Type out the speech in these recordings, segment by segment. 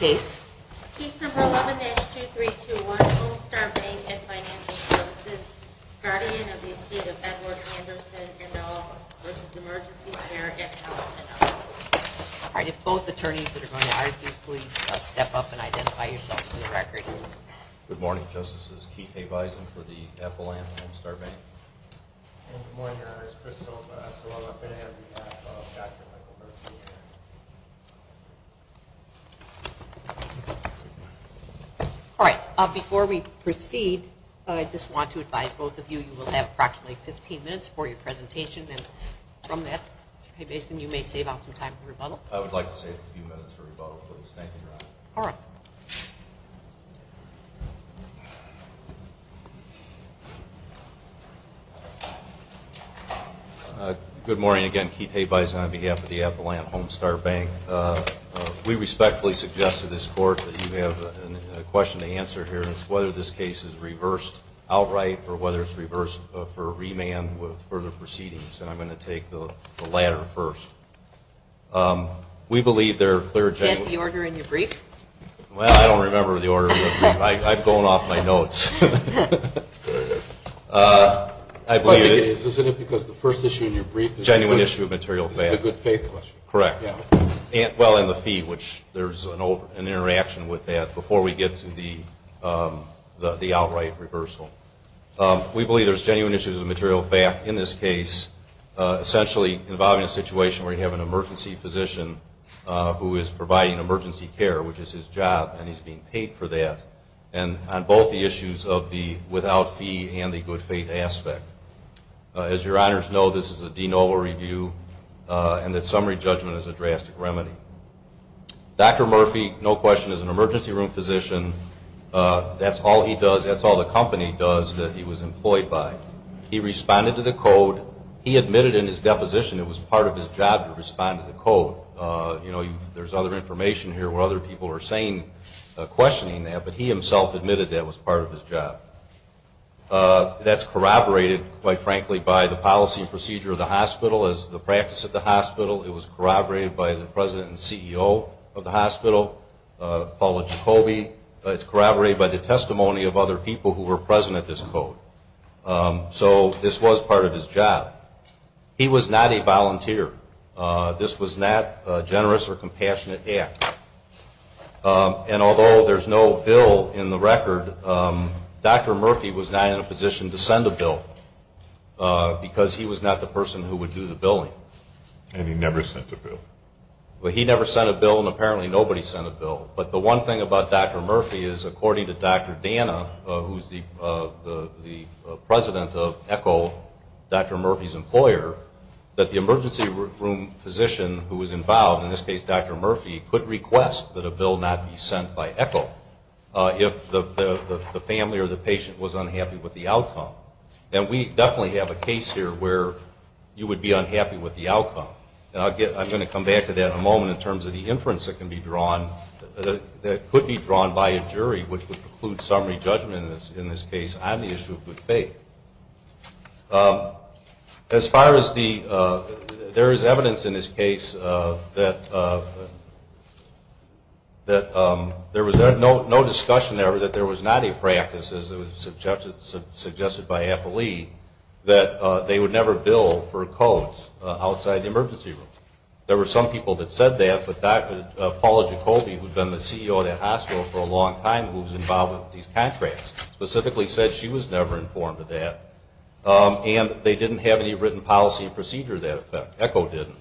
Case No. 11-2321, Home Star Bank & Financial Services, guardian of the estate of Edward Anderson & Owell v. Emergency Care & Health & Owell. If both attorneys that are going to argue, please step up and identify yourself for the record. Good morning, Justices. Keith A. Bison for the Appalachian Home Star Bank. Good morning, Your Honors. Chris Silva, S.O.L.A. Finnegan on behalf of Dr. Michael Bertini. All right. Before we proceed, I just want to advise both of you, you will have approximately 15 minutes for your presentation. And from that, Mr. A. Bison, you may save up some time for rebuttal. I would like to save a few minutes for rebuttal, please. Thank you, Your Honor. All right. Good morning again. Keith A. Bison on behalf of the Appalachian Home Star Bank. We respectfully suggest to this Court that you have a question to answer here, and it's whether this case is reversed outright or whether it's reversed for remand with further proceedings. And I'm going to take the latter first. Is that the order in your brief? Well, I don't remember the order of the brief. I've gone off my notes. Isn't it because the first issue in your brief is a good faith question? Correct. Well, and the fee, which there's an interaction with that before we get to the outright reversal. We believe there's genuine issues of material fact in this case, essentially involving a situation where you have an emergency physician who is providing emergency care, which is his job, and he's being paid for that, and on both the issues of the without fee and the good faith aspect. As your Honors know, this is a de novo review, and that summary judgment is a drastic remedy. Dr. Murphy, no question, is an emergency room physician. That's all he does. That's all the company does that he was employed by. He responded to the code. He admitted in his deposition it was part of his job to respond to the code. You know, there's other information here where other people are questioning that, but he himself admitted that was part of his job. That's corroborated, quite frankly, by the policy and procedure of the hospital as the practice of the hospital. It was corroborated by the president and CEO of the hospital, Paula Jacoby. It's corroborated by the testimony of other people who were present at this code. So this was part of his job. He was not a volunteer. This was not a generous or compassionate act, and although there's no bill in the record, Dr. Murphy was not in a position to send a bill because he was not the person who would do the billing. And he never sent a bill. Well, he never sent a bill, and apparently nobody sent a bill. But the one thing about Dr. Murphy is, according to Dr. Dana, who's the president of ECHO, Dr. Murphy's employer, that the emergency room physician who was involved, in this case Dr. Murphy, could request that a bill not be sent by ECHO if the family or the patient was unhappy with the outcome. And we definitely have a case here where you would be unhappy with the outcome. And I'm going to come back to that in a moment in terms of the inference that could be drawn by a jury, which would preclude summary judgment in this case on the issue of good faith. As far as the – there is evidence in this case that there was no discussion ever that there was not a practice, as it was suggested by Appley, that they would never bill for codes outside the emergency room. There were some people that said that, but Dr. Paula Jacoby, who had been the CEO of that hospital for a long time, who was involved with these contracts, specifically said she was never informed of that. And they didn't have any written policy or procedure to that effect. ECHO didn't.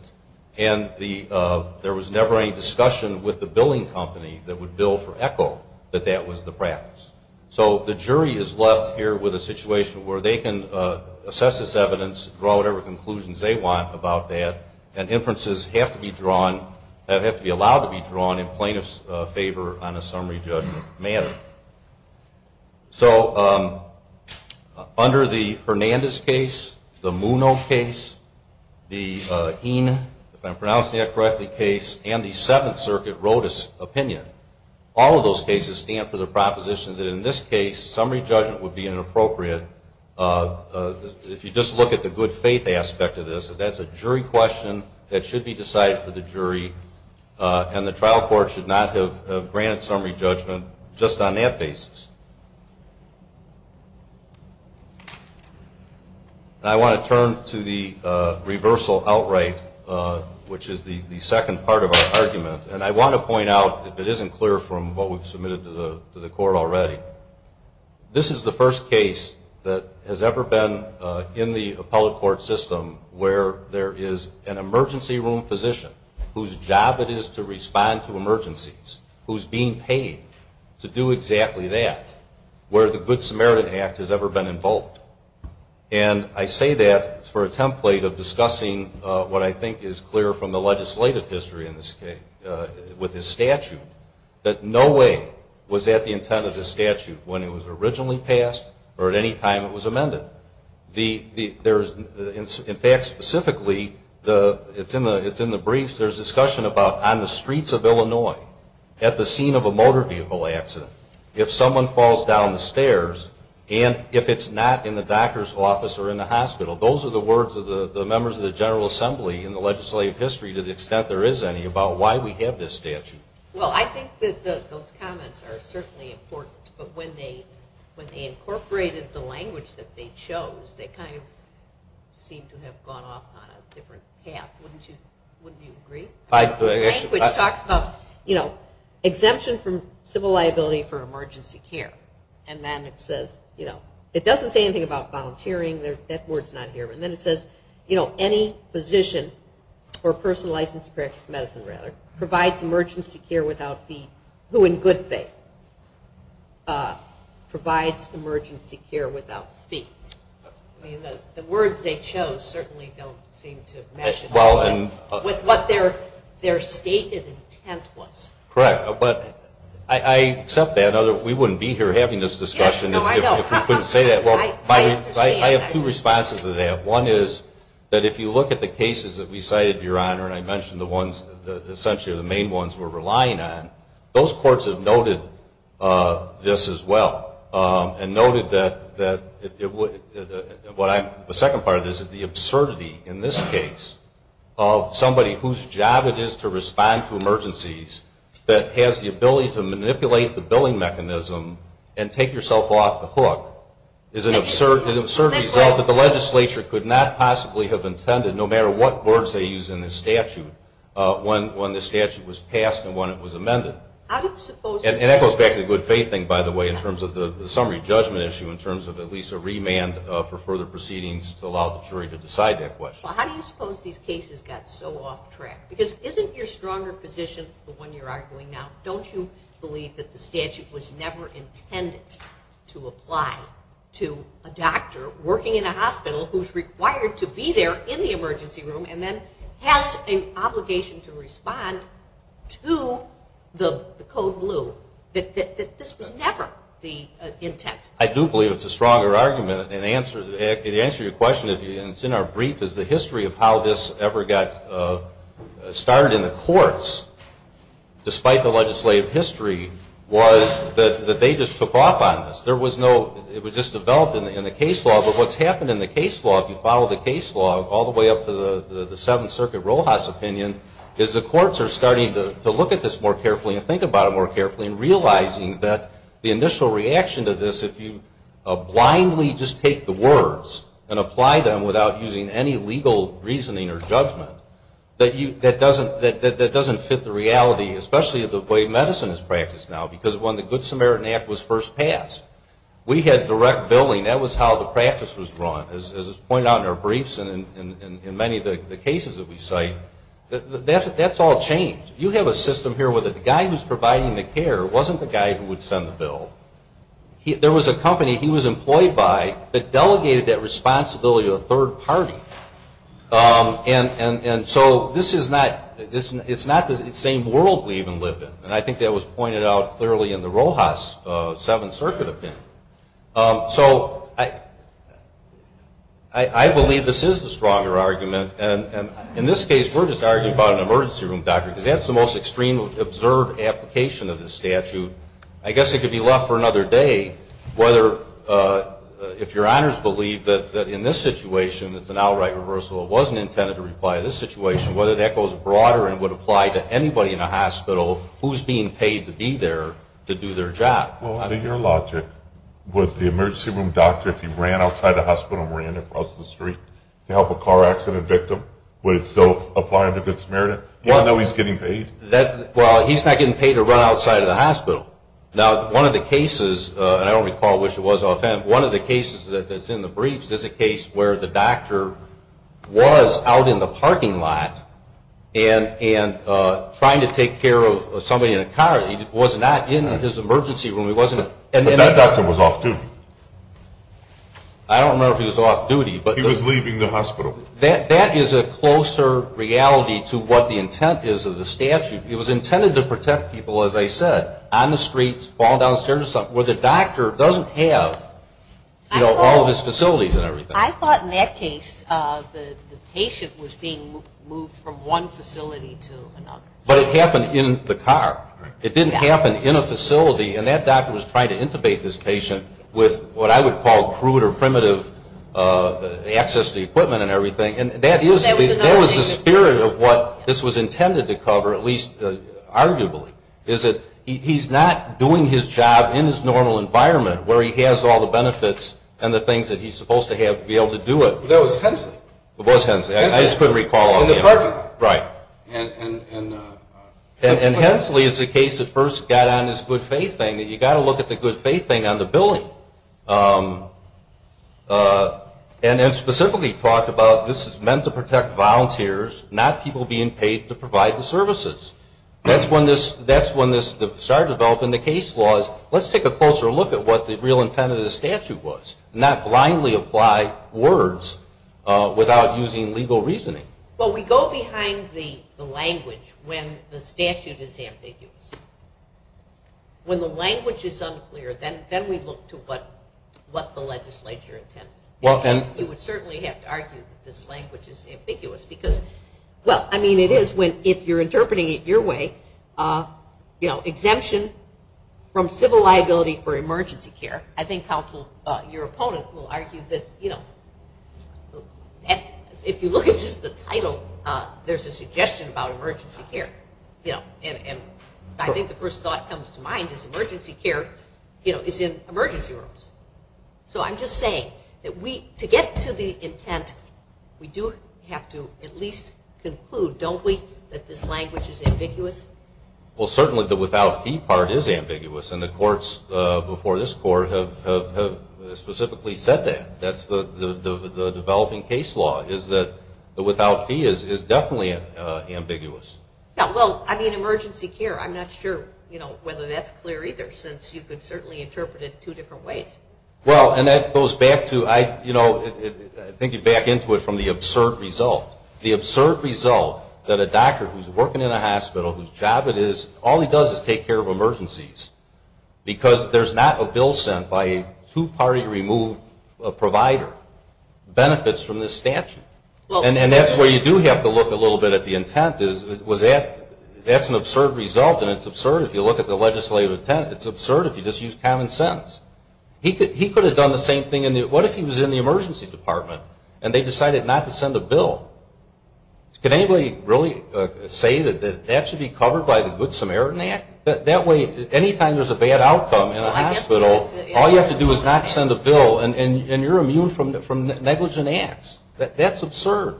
And there was never any discussion with the billing company that would bill for ECHO that that was the practice. So the jury is left here with a situation where they can assess this evidence, draw whatever conclusions they want about that, and inferences have to be drawn – have to be allowed to be drawn in plaintiff's favor on a summary judgment matter. So under the Hernandez case, the Muno case, the Heen, if I'm pronouncing that correctly, case, and the Seventh Circuit Rodas opinion, all of those cases stand for the proposition that, in this case, summary judgment would be inappropriate. If you just look at the good faith aspect of this, that that's a jury question that should be decided for the jury, and the trial court should not have granted summary judgment just on that basis. And I want to turn to the reversal outright, which is the second part of our argument. And I want to point out, if it isn't clear from what we've submitted to the court already, this is the first case that has ever been in the appellate court system where there is an emergency room physician whose job it is to respond to emergencies, who's being paid to do exactly that. Where the Good Samaritan Act has ever been invoked. And I say that for a template of discussing what I think is clear from the legislative history in this case, with this statute, that no way was that the intent of this statute when it was originally passed or at any time it was amended. In fact, specifically, it's in the briefs, there's discussion about on the streets of Illinois, at the scene of a motor vehicle accident, if someone falls down the stairs, and if it's not in the doctor's office or in the hospital. Those are the words of the members of the General Assembly in the legislative history, to the extent there is any, about why we have this statute. Well, I think that those comments are certainly important. But when they incorporated the language that they chose, they kind of seem to have gone off on a different path. Wouldn't you agree? The language talks about, you know, exemption from civil liability for emergency care. And then it says, you know, it doesn't say anything about volunteering. That word's not here. And then it says, you know, any physician or person licensed to practice medicine, rather, provides emergency care without fee, who in good faith provides emergency care without fee. The words they chose certainly don't seem to match at all with what their stated intent was. Correct. But I accept that. We wouldn't be here having this discussion if we couldn't say that. I understand. I have two responses to that. One is that if you look at the cases that we cited, Your Honor, and I mentioned the ones that essentially are the main ones we're relying on, those courts have noted this as well and noted that the second part of this is the absurdity in this case of somebody whose job it is to respond to emergencies that has the ability to manipulate the billing mechanism and take yourself off the hook is an absurd result that the legislature could not possibly have intended, no matter what words they used in the statute, when the statute was passed and when it was amended. And that goes back to the good faith thing, by the way, in terms of the summary judgment issue, in terms of at least a remand for further proceedings to allow the jury to decide that question. How do you suppose these cases got so off track? Because isn't your stronger position the one you're arguing now? Don't you believe that the statute was never intended to apply to a doctor working in a hospital who's required to be there in the emergency room and then has an obligation to respond to the code blue, that this was never the intent? I do believe it's a stronger argument. The answer to your question, and it's in our brief, is the history of how this ever got started in the courts, despite the legislative history, was that they just took off on this. It was just developed in the case law, but what's happened in the case law, if you follow the case law all the way up to the Seventh Circuit Rojas opinion, is the courts are starting to look at this more carefully and think about it more carefully and realizing that the initial reaction to this, if you blindly just take the words and apply them without using any legal reasoning or judgment, that doesn't fit the reality, especially the way medicine is practiced now. Because when the Good Samaritan Act was first passed, we had direct billing. That was how the practice was run. As was pointed out in our briefs and in many of the cases that we cite, that's all changed. You have a system here where the guy who's providing the care wasn't the guy who would send the bill. There was a company he was employed by that delegated that responsibility to a third party. And so this is not the same world we even live in. And I think that was pointed out clearly in the Rojas Seventh Circuit opinion. So I believe this is the stronger argument. And in this case, we're just arguing about an emergency room doctor because that's the most extreme observed application of this statute. I guess it could be left for another day whether if your honors believe that in this situation it's an outright reversal or wasn't intended to require this situation, whether that goes broader and would apply to anybody in a hospital who's being paid to be there to do their job. Well, under your logic, would the emergency room doctor, if he ran outside the hospital and ran across the street to help a car accident victim, would it still apply under Good Samaritan even though he's getting paid? Well, he's not getting paid to run outside of the hospital. Now, one of the cases, and I don't recall which it was, I'll attempt, one of the cases that's in the briefs is a case where the doctor was out in the parking lot and trying to take care of somebody in a car. He was not in his emergency room. But that doctor was off duty. I don't remember if he was off duty. He was leaving the hospital. That is a closer reality to what the intent is of the statute. It was intended to protect people, as I said, on the streets, where the doctor doesn't have, you know, all of his facilities and everything. I thought in that case the patient was being moved from one facility to another. But it happened in the car. It didn't happen in a facility. And that doctor was trying to intubate this patient with what I would call crude or primitive access to equipment and everything. And that was the spirit of what this was intended to cover, at least arguably, is that he's not doing his job in his normal environment where he has all the benefits and the things that he's supposed to have to be able to do it. That was Hensley. It was Hensley. I just couldn't recall offhand. In the parking lot. Right. And Hensley is the case that first got on this good faith thing. You've got to look at the good faith thing on the billing. And then specifically talk about this is meant to protect volunteers, not people being paid to provide the services. That's when this started developing the case laws. Let's take a closer look at what the real intent of the statute was, not blindly apply words without using legal reasoning. Well, we go behind the language when the statute is ambiguous. When the language is unclear, then we look to what the legislature intended. You would certainly have to argue that this language is ambiguous because, well, I mean it is if you're interpreting it your way, exemption from civil liability for emergency care. I think your opponent will argue that if you look at just the title, there's a suggestion about emergency care. And I think the first thought that comes to mind is emergency care is in emergency rooms. So I'm just saying that to get to the intent, we do have to at least conclude, don't we, that this language is ambiguous? Well, certainly the without fee part is ambiguous, and the courts before this court have specifically said that. That's the developing case law is that the without fee is definitely ambiguous. Yeah, well, I mean emergency care. I'm not sure whether that's clear either, since you could certainly interpret it two different ways. Well, and that goes back to, I think you'd back into it from the absurd result. The absurd result that a doctor who's working in a hospital whose job it is, all he does is take care of emergencies because there's not a bill sent by a two-party removed provider benefits from this statute. And that's where you do have to look a little bit at the intent. That's an absurd result, and it's absurd if you look at the legislative intent. It's absurd if you just use common sense. He could have done the same thing. What if he was in the emergency department and they decided not to send a bill? Could anybody really say that that should be covered by the Good Samaritan Act? That way, anytime there's a bad outcome in a hospital, all you have to do is not send a bill, and you're immune from negligent acts. That's absurd,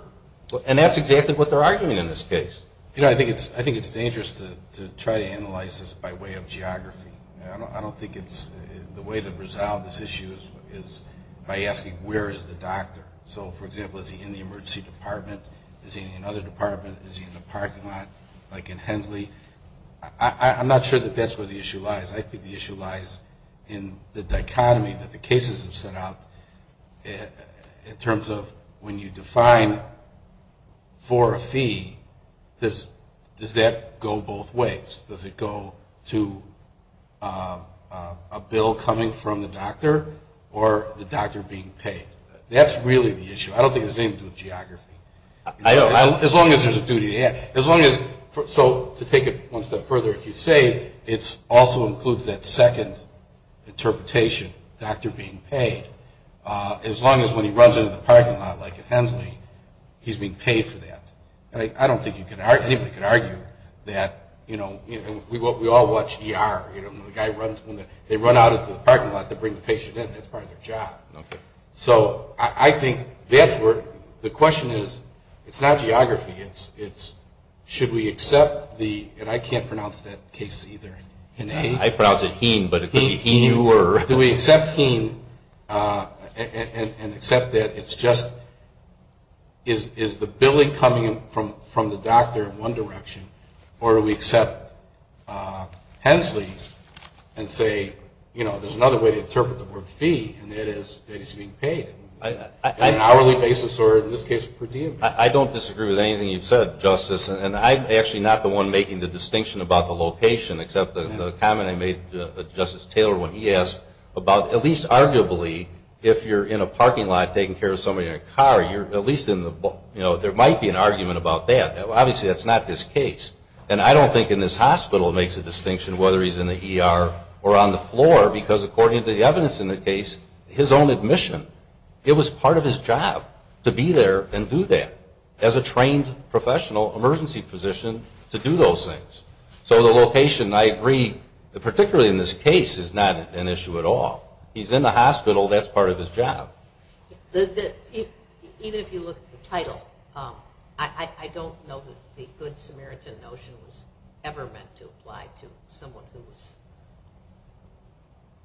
and that's exactly what they're arguing in this case. I think it's dangerous to try to analyze this by way of geography. I don't think the way to resolve this issue is by asking where is the doctor. So, for example, is he in the emergency department? Is he in another department? Is he in the parking lot like in Hensley? I'm not sure that that's where the issue lies. I think the issue lies in the dichotomy that the cases have set out in terms of when you define for a fee, does that go both ways? Does it go to a bill coming from the doctor or the doctor being paid? That's really the issue. I don't think it has anything to do with geography. As long as there's a duty to ask. So, to take it one step further, if you say it also includes that second interpretation, doctor being paid, as long as when he runs into the parking lot like at Hensley, he's being paid for that. I don't think anybody can argue that. We all watch ER. The guy runs, they run out into the parking lot to bring the patient in. That's part of their job. So, I think that's where the question is. It's not geography. It's should we accept the, and I can't pronounce that case either. I pronounce it heen, but it could be heen you or. Do we accept heen and accept that it's just, is the billing coming from the doctor in one direction or do we accept Hensley and say, you know, there's another way to interpret the word fee and it is that he's being paid on an hourly basis or in this case per diem. I don't disagree with anything you've said, Justice. And I'm actually not the one making the distinction about the location, except the comment I made to Justice Taylor when he asked about, at least arguably, if you're in a parking lot taking care of somebody in a car, you're at least in the, you know, there might be an argument about that. Obviously, that's not this case. And I don't think in this hospital it makes a distinction whether he's in the ER or on the floor because according to the evidence in the case, his own admission, it was part of his job to be there and do that as a trained professional, emergency physician, to do those things. So the location, I agree, particularly in this case, is not an issue at all. He's in the hospital. That's part of his job. Even if you look at the title, I don't know that the good Samaritan notion was ever meant to apply to someone who was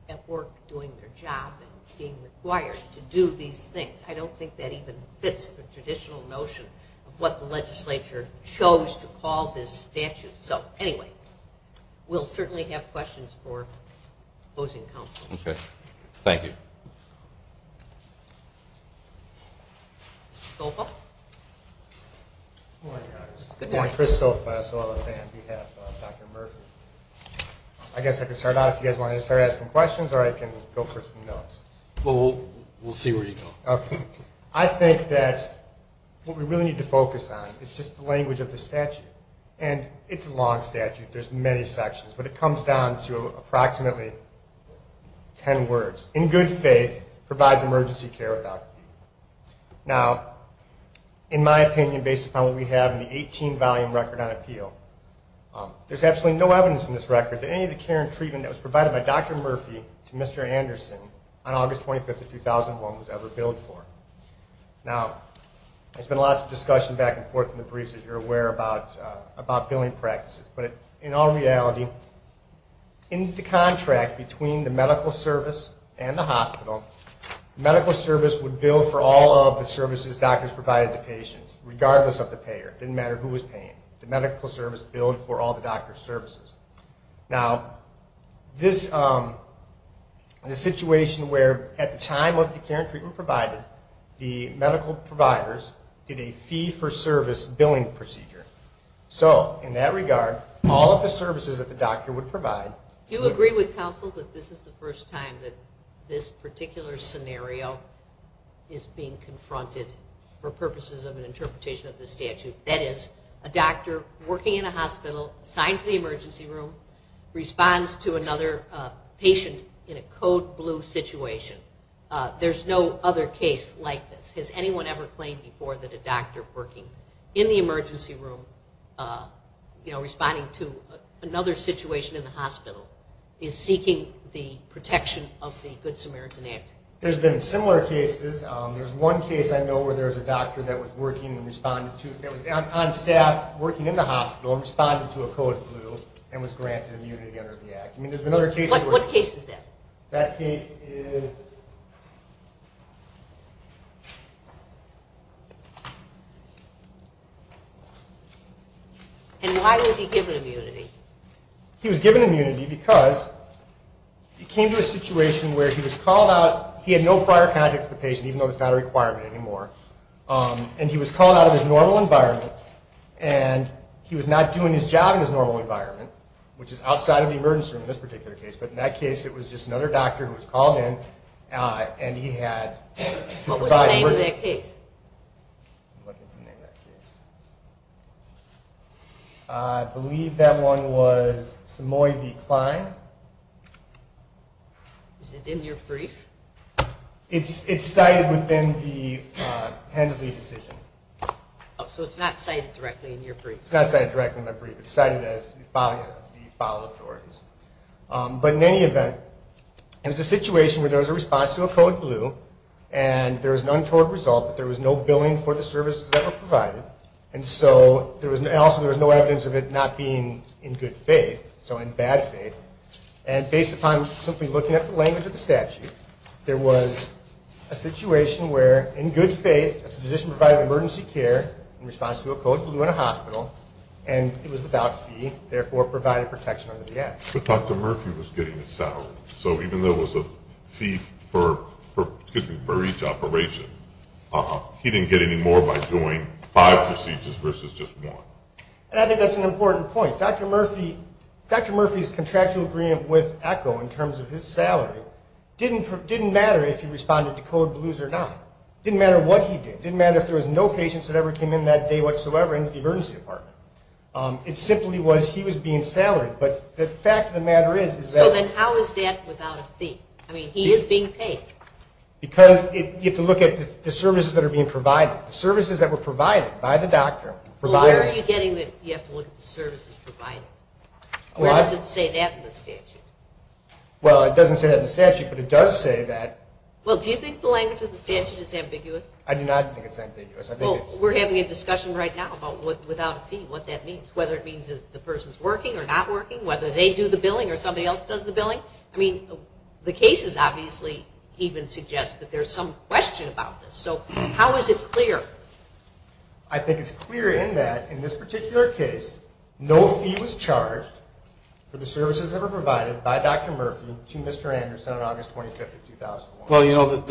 at work doing their job and being required to do these things. I don't think that even fits the traditional notion of what the legislature chose to call this statute. So, anyway, we'll certainly have questions for opposing counsel. Okay. Thank you. Mr. Sofa? Good morning, Your Honors. Good morning. Chris Sofa, as well as on behalf of Dr. Murphy. I guess I could start out if you guys want to start asking questions or I can go for some notes. We'll see where you go. I think that what we really need to focus on is just the language of the statute. And it's a long statute. There's many sections, but it comes down to approximately ten words. In good faith provides emergency care without appeal. Now, in my opinion, based upon what we have in the 18-volume record on appeal, there's absolutely no evidence in this record that any of the care and treatment that was provided by Dr. Murphy to Mr. Anderson on August 25, 2001 was ever billed for. Now, there's been lots of discussion back and forth in the briefs, as you're aware, about billing practices. But in all reality, in the contract between the medical service and the hospital, the medical service would bill for all of the services doctors provided to patients, regardless of the payer. It didn't matter who was paying. Now, this is a situation where at the time of the care and treatment provided, the medical providers did a fee-for-service billing procedure. So in that regard, all of the services that the doctor would provide... Do you agree with counsel that this is the first time that this particular scenario is being confronted for purposes of an interpretation of the statute? That is, a doctor working in a hospital, assigned to the emergency room, responds to another patient in a code blue situation. There's no other case like this. Has anyone ever claimed before that a doctor working in the emergency room, responding to another situation in the hospital, is seeking the protection of the Good Samaritan Act? There's been similar cases. There's one case I know where there was a doctor that was on staff working in the hospital and responded to a code blue and was granted immunity under the Act. What case is that? That case is... And why was he given immunity? He was given immunity because he came to a situation where he was called out. He had no prior contact with the patient, even though it's not a requirement anymore. And he was called out of his normal environment, and he was not doing his job in his normal environment, which is outside of the emergency room in this particular case. But in that case, it was just another doctor who was called in, and he had to provide... What was the name of that case? I believe that one was Samoy D. Klein. Is it in your brief? It's cited within the Hensley decision. So it's not cited directly in your brief? It's not cited directly in my brief. It's cited as the file of the organs. But in any event, it was a situation where there was a response to a code blue, and there was an untoward result that there was no billing for the services that were provided, and also there was no evidence of it not being in good faith, so in bad faith. And based upon simply looking at the language of the statute, there was a situation where, in good faith, a physician provided emergency care in response to a code blue in a hospital, and it was without fee, therefore providing protection under the act. But Dr. Murphy was getting it settled. So even though it was a fee for each operation, he didn't get any more by doing five procedures versus just one. And I think that's an important point. Dr. Murphy's contractual agreement with ECHO in terms of his salary didn't matter if he responded to code blues or not. It didn't matter what he did. It didn't matter if there was no patients that ever came in that day whatsoever into the emergency department. It simply was he was being salaried. But the fact of the matter is that he is being paid. Because you have to look at the services that are being provided, the services that were provided by the doctor. Well, why are you getting that you have to look at the services provided? Why does it say that in the statute? Well, it doesn't say that in the statute, but it does say that. Well, do you think the language of the statute is ambiguous? I do not think it's ambiguous. Well, we're having a discussion right now about without a fee, what that means, whether it means the person's working or not working, whether they do the billing or somebody else does the billing. I mean, the cases obviously even suggest that there's some question about this. So how is it clear? I think it's clear in that, in this particular case, no fee was charged for the services that were provided by Dr. Murphy to Mr. Anderson on August 25th of 2001. Well, you know,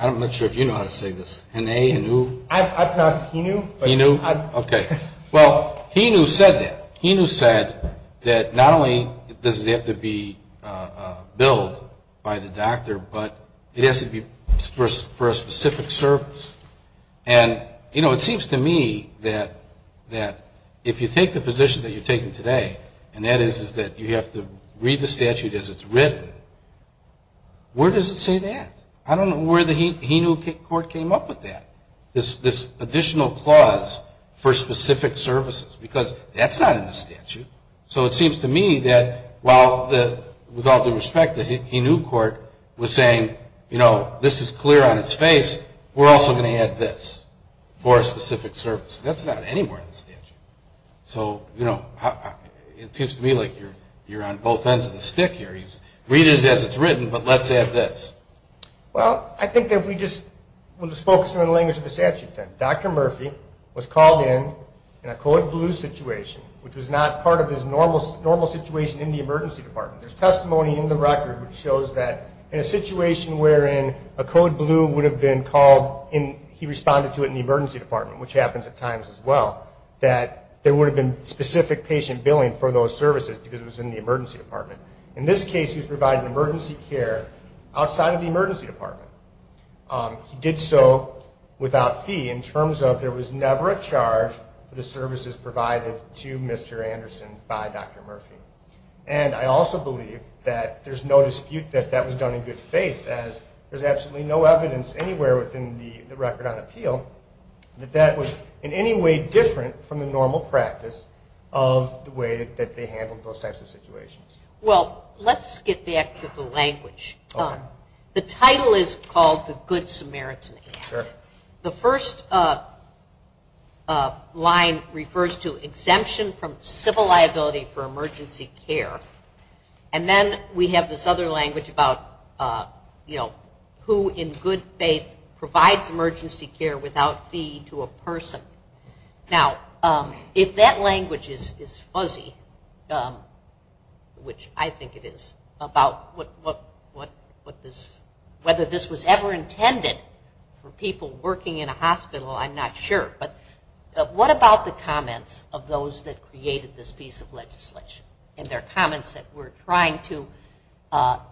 I'm not sure if you know how to say this. I pronounce it heenoo. Heenoo? Okay. Well, heenoo said that. Heenoo said that not only does it have to be billed by the doctor, but it has to be for a specific service. And, you know, it seems to me that if you take the position that you're taking today, and that is that you have to read the statute as it's written, where does it say that? I don't know where the heenoo court came up with that, this additional clause for specific services, because that's not in the statute. So it seems to me that while, with all due respect, the heenoo court was saying, you know, this is clear on its face, we're also going to add this for a specific service. That's not anywhere in the statute. So, you know, it seems to me like you're on both ends of the stick here. Read it as it's written, but let's add this. Well, I think if we just focus on the language of the statute then. Dr. Murphy was called in in a code blue situation, which was not part of his normal situation in the emergency department. There's testimony in the record which shows that in a situation wherein a code blue would have been called and he responded to it in the emergency department, which happens at times as well, that there would have been specific patient billing for those services because it was in the emergency department. In this case, he was providing emergency care outside of the emergency department. He did so without fee in terms of there was never a charge for the services provided to Mr. Anderson by Dr. Murphy. And I also believe that there's no dispute that that was done in good faith, as there's absolutely no evidence anywhere within the record on appeal that that was in any way different from the normal practice of the way that they handled those types of situations. Well, let's get back to the language. Okay. The title is called the Good Samaritan Act. Sure. The first line refers to exemption from civil liability for emergency care. And then we have this other language about, you know, who in good faith provides emergency care without fee to a person. Now, if that language is fuzzy, which I think it is, about whether this was ever intended for people working in a hospital, I'm not sure. But what about the comments of those that created this piece of legislation and their comments that we're trying to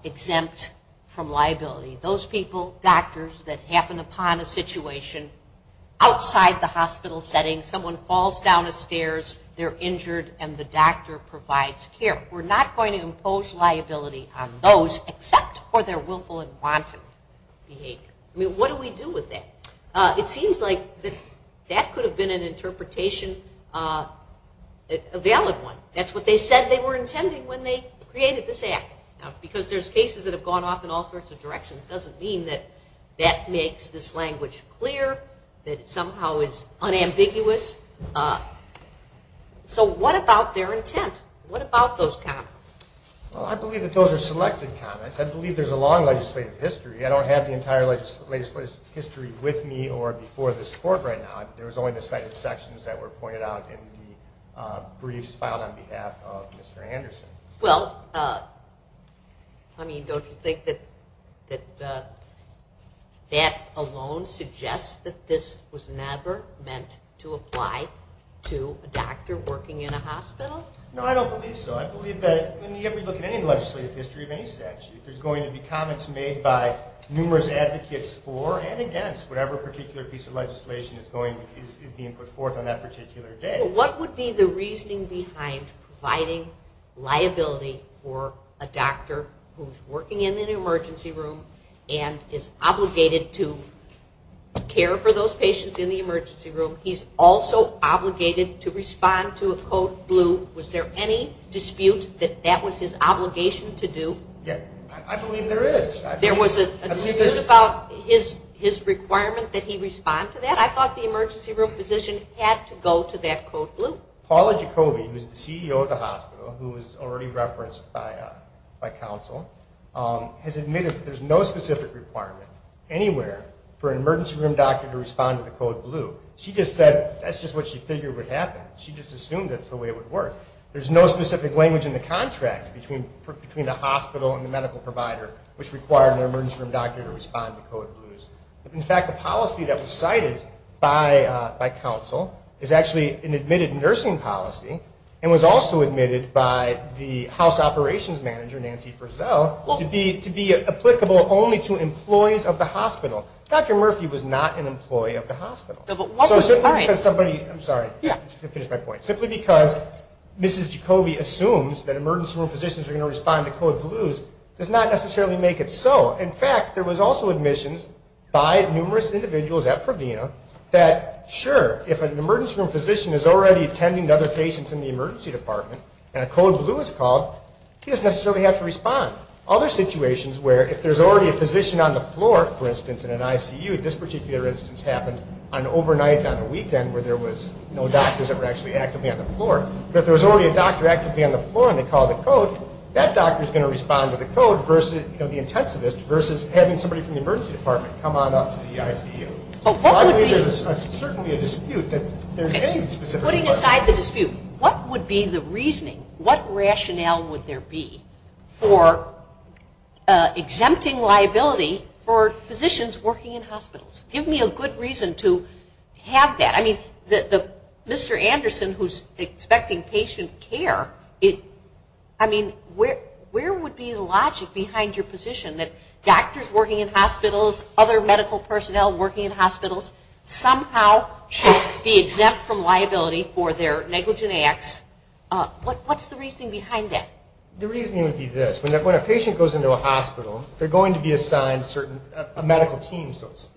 exempt from liability, those people, doctors, that happen upon a situation outside the hospital setting, someone falls down the stairs, they're injured, and the doctor provides care. We're not going to impose liability on those except for their willful and wanton behavior. I mean, what do we do with that? It seems like that could have been an interpretation, a valid one. That's what they said they were intending when they created this act, because there's cases that have gone off in all sorts of directions. It doesn't mean that that makes this language clear, that it somehow is unambiguous. So what about their intent? What about those comments? Well, I believe that those are selected comments. I believe there's a long legislative history. I don't have the entire legislative history with me or before this court right now. There was only the cited sections that were pointed out in the briefs filed on behalf of Mr. Anderson. Well, I mean, don't you think that that alone suggests that this was never meant to apply to a doctor working in a hospital? No, I don't believe so. I believe that when you ever look at any legislative history of any statute, there's going to be comments made by numerous advocates for and against whatever particular piece of legislation is being put forth on that particular day. What would be the reasoning behind providing liability for a doctor who's working in an emergency room and is obligated to care for those patients in the emergency room? He's also obligated to respond to a code blue. Was there any dispute that that was his obligation to do? I believe there is. There was a dispute about his requirement that he respond to that? I thought the emergency room physician had to go to that code blue. Paula Jacoby, who's the CEO of the hospital, who was already referenced by counsel, has admitted that there's no specific requirement anywhere for an emergency room doctor to respond to the code blue. She just said that's just what she figured would happen. She just assumed that's the way it would work. There's no specific language in the contract between the hospital and the medical provider which required an emergency room doctor to respond to code blues. In fact, the policy that was cited by counsel is actually an admitted nursing policy and was also admitted by the house operations manager, Nancy Frizzell, to be applicable only to employees of the hospital. Dr. Murphy was not an employee of the hospital. I'm sorry, I didn't finish my point. Simply because Mrs. Jacoby assumes that emergency room physicians are going to respond to code blues does not necessarily make it so. In fact, there was also admissions by numerous individuals at Provina that, sure, if an emergency room physician is already attending to other patients in the emergency department and a code blue is called, he doesn't necessarily have to respond. Other situations where if there's already a physician on the floor, for instance, in an ICU, this particular instance happened overnight on a weekend where there was no doctors that were actually actively on the floor, but if there was already a doctor actively on the floor and they called the code, that doctor is going to respond to the code versus the intensivist versus having somebody from the emergency department come on up to the ICU. So I believe there's certainly a dispute that there's a specific question. Putting aside the dispute, what would be the reasoning, what rationale would there be for exempting liability for physicians working in hospitals? Give me a good reason to have that. Mr. Anderson, who's expecting patient care, where would be the logic behind your position that doctors working in hospitals, other medical personnel working in hospitals, somehow should be exempt from liability for their negligent acts? What's the reasoning behind that? The reasoning would be this. When a patient goes into a hospital, they're going to be assigned a medical team, so to speak.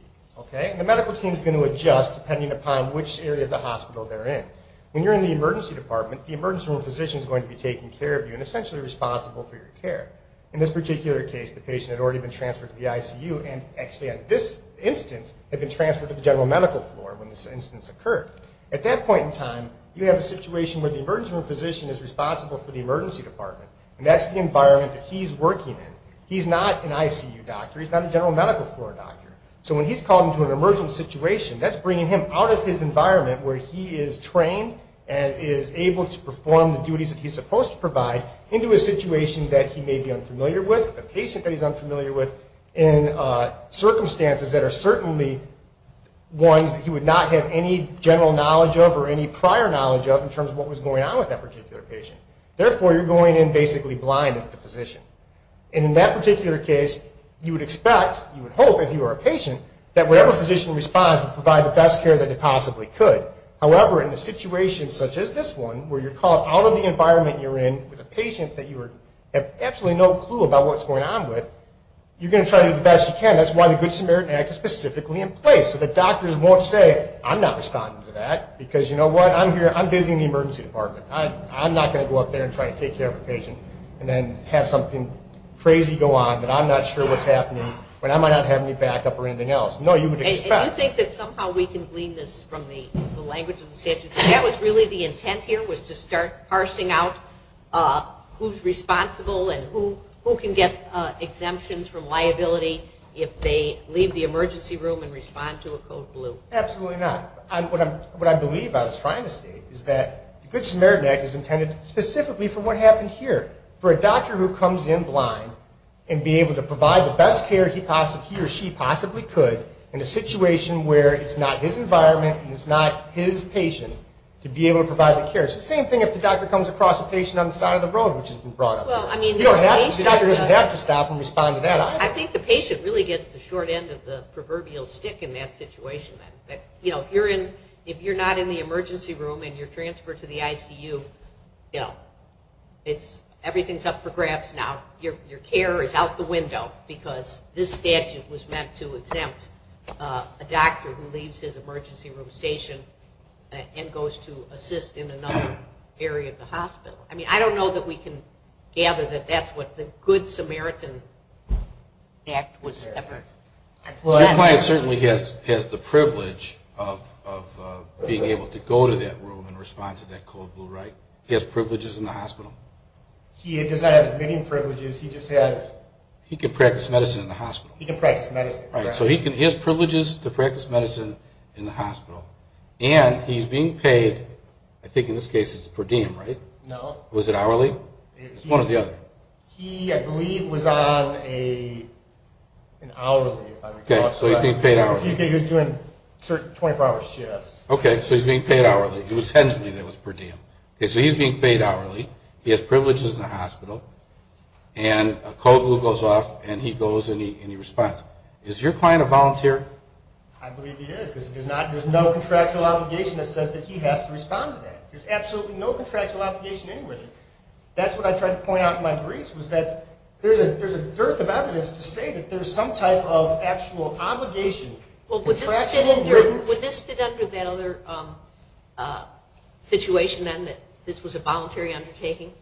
The medical team is going to adjust depending upon which area of the hospital they're in. When you're in the emergency department, the emergency room physician is going to be taking care of you and essentially responsible for your care. In this particular case, the patient had already been transferred to the ICU and actually at this instance had been transferred to the general medical floor when this instance occurred. At that point in time, you have a situation where the emergency room physician is responsible for the emergency department, and that's the environment that he's working in. He's not an ICU doctor. He's not a general medical floor doctor. So when he's called into an emergency situation, that's bringing him out of his environment where he is trained and is able to perform the duties that he's supposed to provide into a situation that he may be unfamiliar with, with a patient that he's unfamiliar with, in circumstances that are certainly ones that he would not have any general knowledge of or any prior knowledge of in terms of what was going on with that particular patient. Therefore, you're going in basically blind as the physician. And in that particular case, you would expect, you would hope if you were a patient, that whatever physician responds would provide the best care that they possibly could. However, in a situation such as this one where you're called out of the environment you're in with a patient that you have absolutely no clue about what's going on with, you're going to try to do the best you can. That's why the Good Samaritan Act is specifically in place so that doctors won't say, I'm not responding to that because, you know what, I'm busy in the emergency department. I'm not going to go up there and try to take care of a patient and then have something crazy go on that I'm not sure what's happening when I might not have any backup or anything else. No, you would expect. And you think that somehow we can glean this from the language of the statute? That was really the intent here was to start parsing out who's responsible and who can get exemptions from liability if they leave the emergency room and respond to a code blue? Absolutely not. What I believe, I was trying to state, is that the Good Samaritan Act is intended specifically for what happened here. For a doctor who comes in blind and be able to provide the best care he or she possibly could in a situation where it's not his environment and it's not his patient to be able to provide the care. It's the same thing if the doctor comes across a patient on the side of the road which has been brought up. The doctor doesn't have to stop and respond to that. I think the patient really gets the short end of the proverbial stick in that situation. If you're not in the emergency room and you're transferred to the ICU, everything's up for grabs now. Your care is out the window because this statute was meant to exempt a doctor who leaves his emergency room station and goes to assist in another area of the hospital. I don't know that we can gather that that's what the Good Samaritan Act was ever meant to do. Your client certainly has the privilege of being able to go to that room and respond to that code blue, right? He has privileges in the hospital. He does not have any privileges. He just has... He can practice medicine in the hospital. He can practice medicine. He has privileges to practice medicine in the hospital, and he's being paid, I think in this case it's per diem, right? No. Was it hourly? One or the other. He, I believe, was on an hourly, if I recall. Okay, so he's being paid hourly. He was doing 24-hour shifts. Okay, so he's being paid hourly. It was hensely that was per diem. Okay, so he's being paid hourly. He has privileges in the hospital, and a code blue goes off, and he goes and he responds. Is your client a volunteer? I believe he is because there's no contractual obligation that says that he has to respond to that. There's absolutely no contractual obligation anywhere. That's what I tried to point out in my briefs, was that there's a dearth of evidence to say that there's some type of actual obligation. Well, would this fit under that other situation, then, that this was a voluntary undertaking?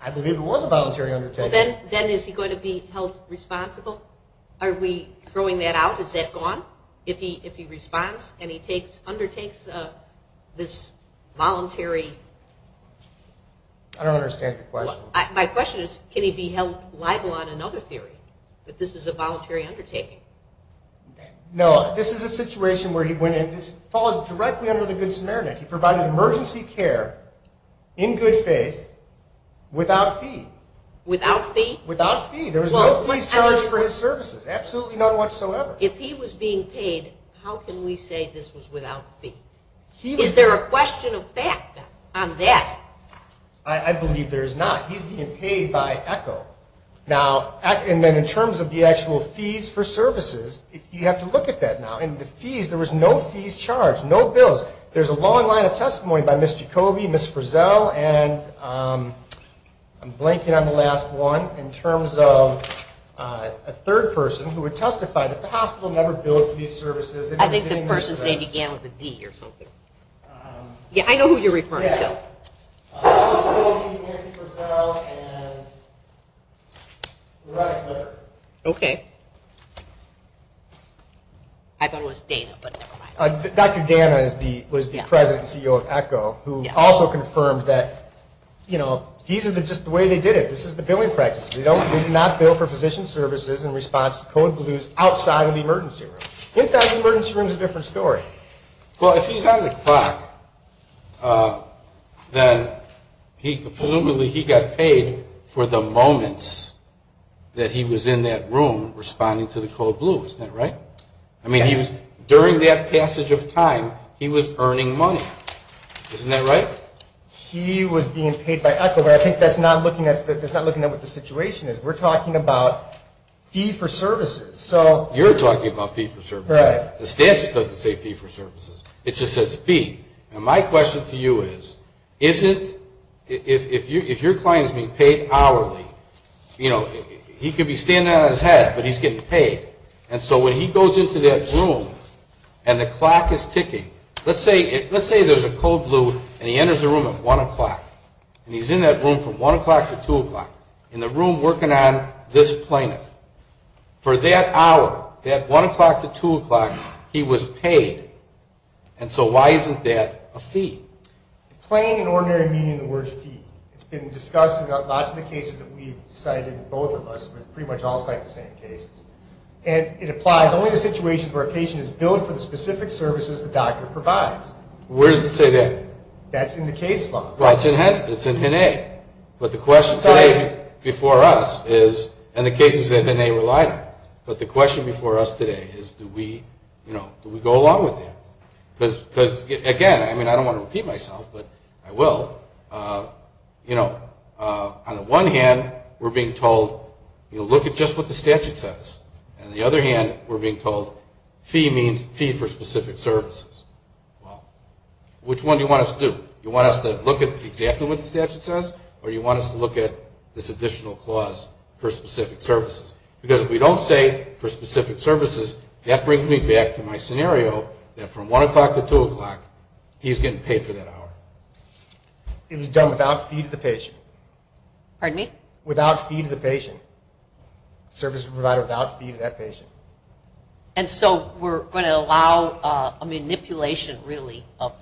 I believe it was a voluntary undertaking. Well, then is he going to be held responsible? Are we throwing that out? Is that gone if he responds and he undertakes this voluntary... I don't understand the question. My question is, can he be held liable on another theory, that this is a voluntary undertaking? No, this is a situation where he went in. This falls directly under the Good Samaritan Act. He provided emergency care in good faith without fee. Without fee? Without fee. There was no fees charged for his services, absolutely not whatsoever. If he was being paid, how can we say this was without fee? Is there a question of fact on that? I believe there is not. He's being paid by ECHO. And then in terms of the actual fees for services, you have to look at that now. In the fees, there was no fees charged, no bills. There's a long line of testimony by Ms. Jacoby, Ms. Frizzell, and I'm blanking on the last one, in terms of a third person who would testify that the hospital never billed for these services. I think the person said he began with a D or something. Yeah, I know who you're referring to. Ms. Jacoby, Nancy Frizzell, and Loretta Clifford. Okay. I thought it was Dana, but never mind. Dr. Dana was the president and CEO of ECHO, who also confirmed that, you know, these are just the way they did it. This is the billing practices. They did not bill for physician services in response to code blues outside of the emergency room. Inside the emergency room is a different story. Well, if he's on the clock, then presumably he got paid for the moments that he was in that room responding to the code blue. Isn't that right? Yeah. I mean, during that passage of time, he was earning money. Isn't that right? He was being paid by ECHO, but I think that's not looking at what the situation is. We're talking about fee for services. You're talking about fee for services. The statute doesn't say fee for services. It just says fee. And my question to you is, if your client is being paid hourly, you know, he could be standing on his head, but he's getting paid. And so when he goes into that room and the clock is ticking, let's say there's a code blue and he enters the room at 1 o'clock and he's in that room from 1 o'clock to 2 o'clock, in the room working on this plaintiff. For that hour, that 1 o'clock to 2 o'clock, he was paid. And so why isn't that a fee? Plain and ordinary meaning of the word fee. It's been discussed in lots of the cases that we've cited, both of us, but pretty much all cite the same cases. And it applies only to situations where a patient is billed for the specific services the doctor provides. Where does it say that? That's in the case law. Well, it's in HIN-A. But the question today before us is, and the cases that HIN-A relied on, but the question before us today is, do we go along with that? Because, again, I mean, I don't want to repeat myself, but I will. You know, on the one hand, we're being told, you know, look at just what the statute says. On the other hand, we're being told fee means fee for specific services. Well, which one do you want us to do? You want us to look at exactly what the statute says, or do you want us to look at this additional clause for specific services? Because if we don't say for specific services, that brings me back to my scenario, that from 1 o'clock to 2 o'clock, he's getting paid for that hour. It was done without fee to the patient. Pardon me? And so we're going to allow a manipulation, really, of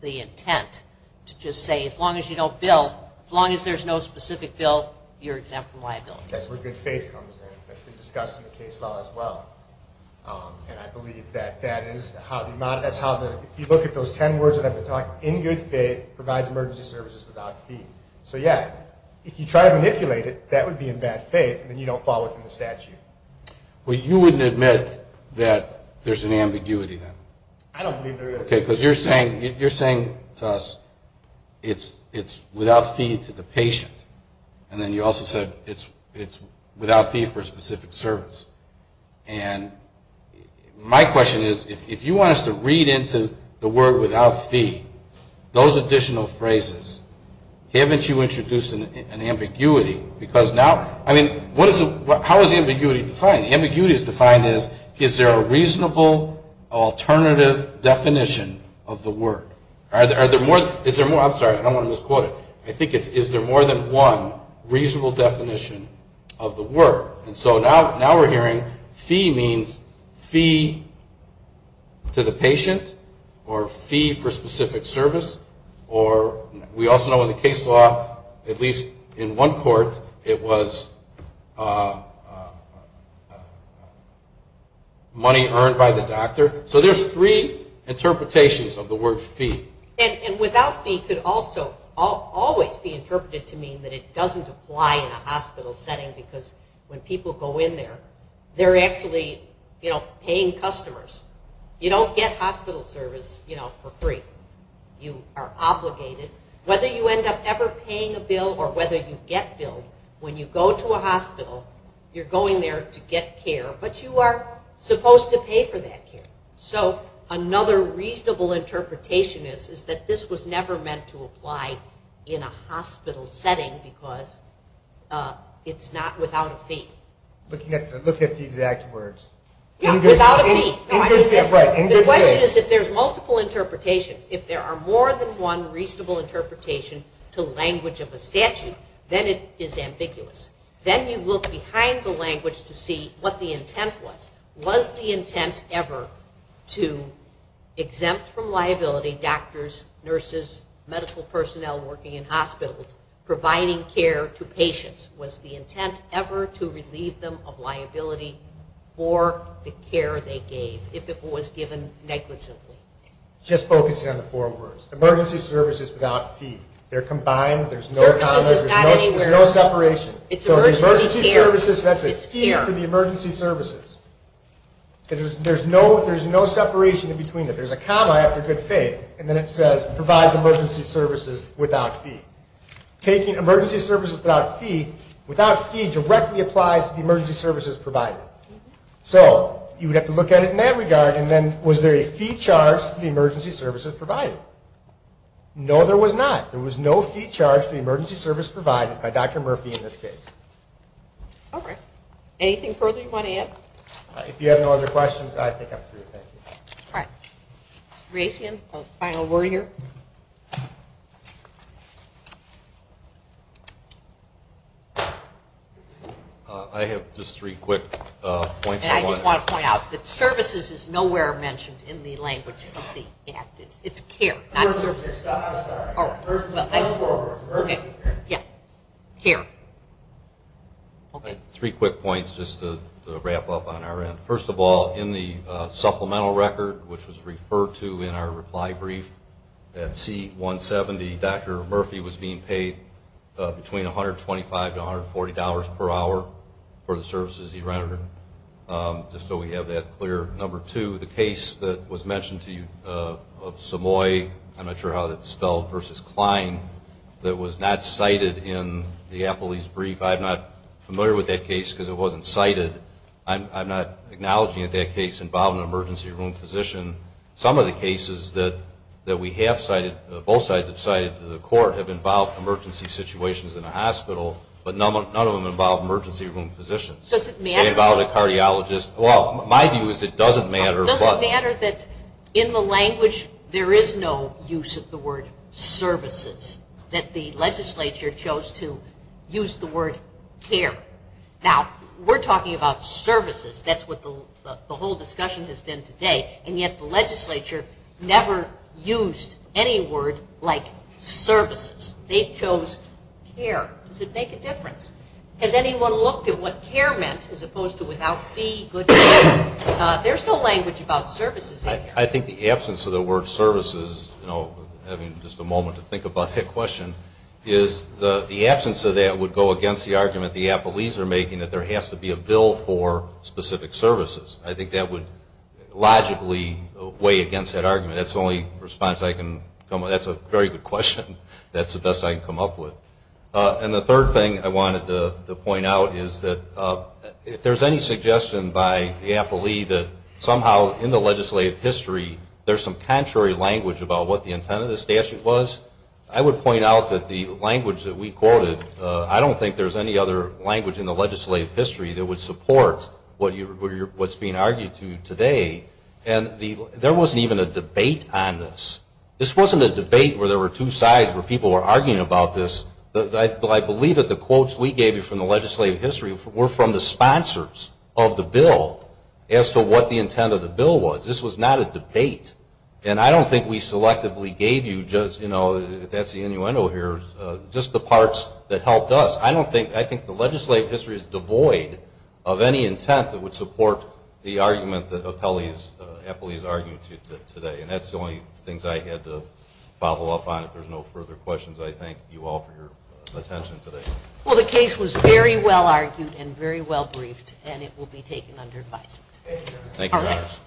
the intent, to just say as long as you don't bill, as long as there's no specific bill, you're exempt from liability. That's where good faith comes in. That's been discussed in the case law as well. And I believe that that is how the model, that's how the, if you look at those 10 words that I've been talking about, in good faith provides emergency services without fee. So, yeah, if you try to manipulate it, that would be in bad faith, and then you don't fall within the statute. Well, you wouldn't admit that there's an ambiguity then? I don't believe there is. Okay, because you're saying to us it's without fee to the patient, and then you also said it's without fee for specific service. And my question is, if you want us to read into the word without fee, those additional phrases, haven't you introduced an ambiguity? Because now, I mean, how is ambiguity defined? Ambiguity is defined as, is there a reasonable alternative definition of the word? Is there more, I'm sorry, I don't want to misquote it. I think it's, is there more than one reasonable definition of the word? And so now we're hearing fee means fee to the patient, or fee for specific service, or we also know in the case law, at least in one court, it was money earned by the doctor. So there's three interpretations of the word fee. And without fee could also always be interpreted to mean that it doesn't apply in a hospital setting, because when people go in there, they're actually paying customers. You don't get hospital service for free. You are obligated. Whether you end up ever paying a bill or whether you get billed, when you go to a hospital, you're going there to get care, but you are supposed to pay for that care. So another reasonable interpretation is, is that this was never meant to apply in a hospital setting because it's not without a fee. Looking at the exact words. Yeah, without a fee. The question is if there's multiple interpretations, if there are more than one reasonable interpretation to language of a statute, then it is ambiguous. Then you look behind the language to see what the intent was. Was the intent ever to exempt from liability doctors, nurses, medical personnel working in hospitals providing care to patients? Was the intent ever to relieve them of liability for the care they gave if it was given negligibly? Just focusing on the four words. Emergency services without fee. They're combined. There's no comma. There's no separation. So the emergency services, that's a fee for the emergency services. There's no separation in between. There's a comma after good faith, and then it says provides emergency services without fee. Taking emergency services without fee, without fee directly applies to the emergency services provided. So you would have to look at it in that regard, and then was there a fee charged to the emergency services provided? No, there was not. There was no fee charged to the emergency services provided by Dr. Murphy in this case. All right. Anything further you want to add? If you have no other questions, I think I'm through. Thank you. All right. Ray, do you have a final word here? I have just three quick points. I just want to point out that services is nowhere mentioned in the language of the act. It's care, not services. I'm sorry. Emergency care. Yeah, care. Three quick points just to wrap up on our end. First of all, in the supplemental record, which was referred to in our reply brief, that C-170, Dr. Murphy was being paid between $125 to $140 per hour for the services he rendered, just so we have that clear. Number two, the case that was mentioned to you of Samoy, I'm not sure how that's spelled, versus Klein, that was not cited in the appellee's brief. I'm not familiar with that case because it wasn't cited. I'm not acknowledging that that case involved an emergency room physician. Some of the cases that we have cited, both sides have cited to the court, have involved emergency situations in a hospital, but none of them involve emergency room physicians. Does it matter? It involved a cardiologist. Well, my view is it doesn't matter. It doesn't matter that in the language there is no use of the word services, that the legislature chose to use the word care. Now, we're talking about services. That's what the whole discussion has been today, and yet the legislature never used any word like services. They chose care. Does it make a difference? Has anyone looked at what care meant as opposed to without fee, good care? There's no language about services in here. I think the absence of the word services, you know, having just a moment to think about that question, is the absence of that would go against the argument the appellees are making that there has to be a bill for specific services. I think that would logically weigh against that argument. That's the only response I can come with. That's a very good question. That's the best I can come up with. And the third thing I wanted to point out is that if there's any suggestion by the appellee that somehow in the legislative history there's some contrary language about what the intent of the statute was, I would point out that the language that we quoted, I don't think there's any other language in the legislative history that would support what's being argued to today. And there wasn't even a debate on this. This wasn't a debate where there were two sides where people were arguing about this. I believe that the quotes we gave you from the legislative history were from the sponsors of the bill as to what the intent of the bill was. This was not a debate. And I don't think we selectively gave you just, you know, that's the innuendo here, just the parts that helped us. I don't think, I think the legislative history is devoid of any intent that would support the argument that appellees argue today. And that's the only things I had to follow up on. If there's no further questions, I thank you all for your attention today. Well, the case was very well argued and very well briefed, and it will be taken under advisement. Thank you. All right.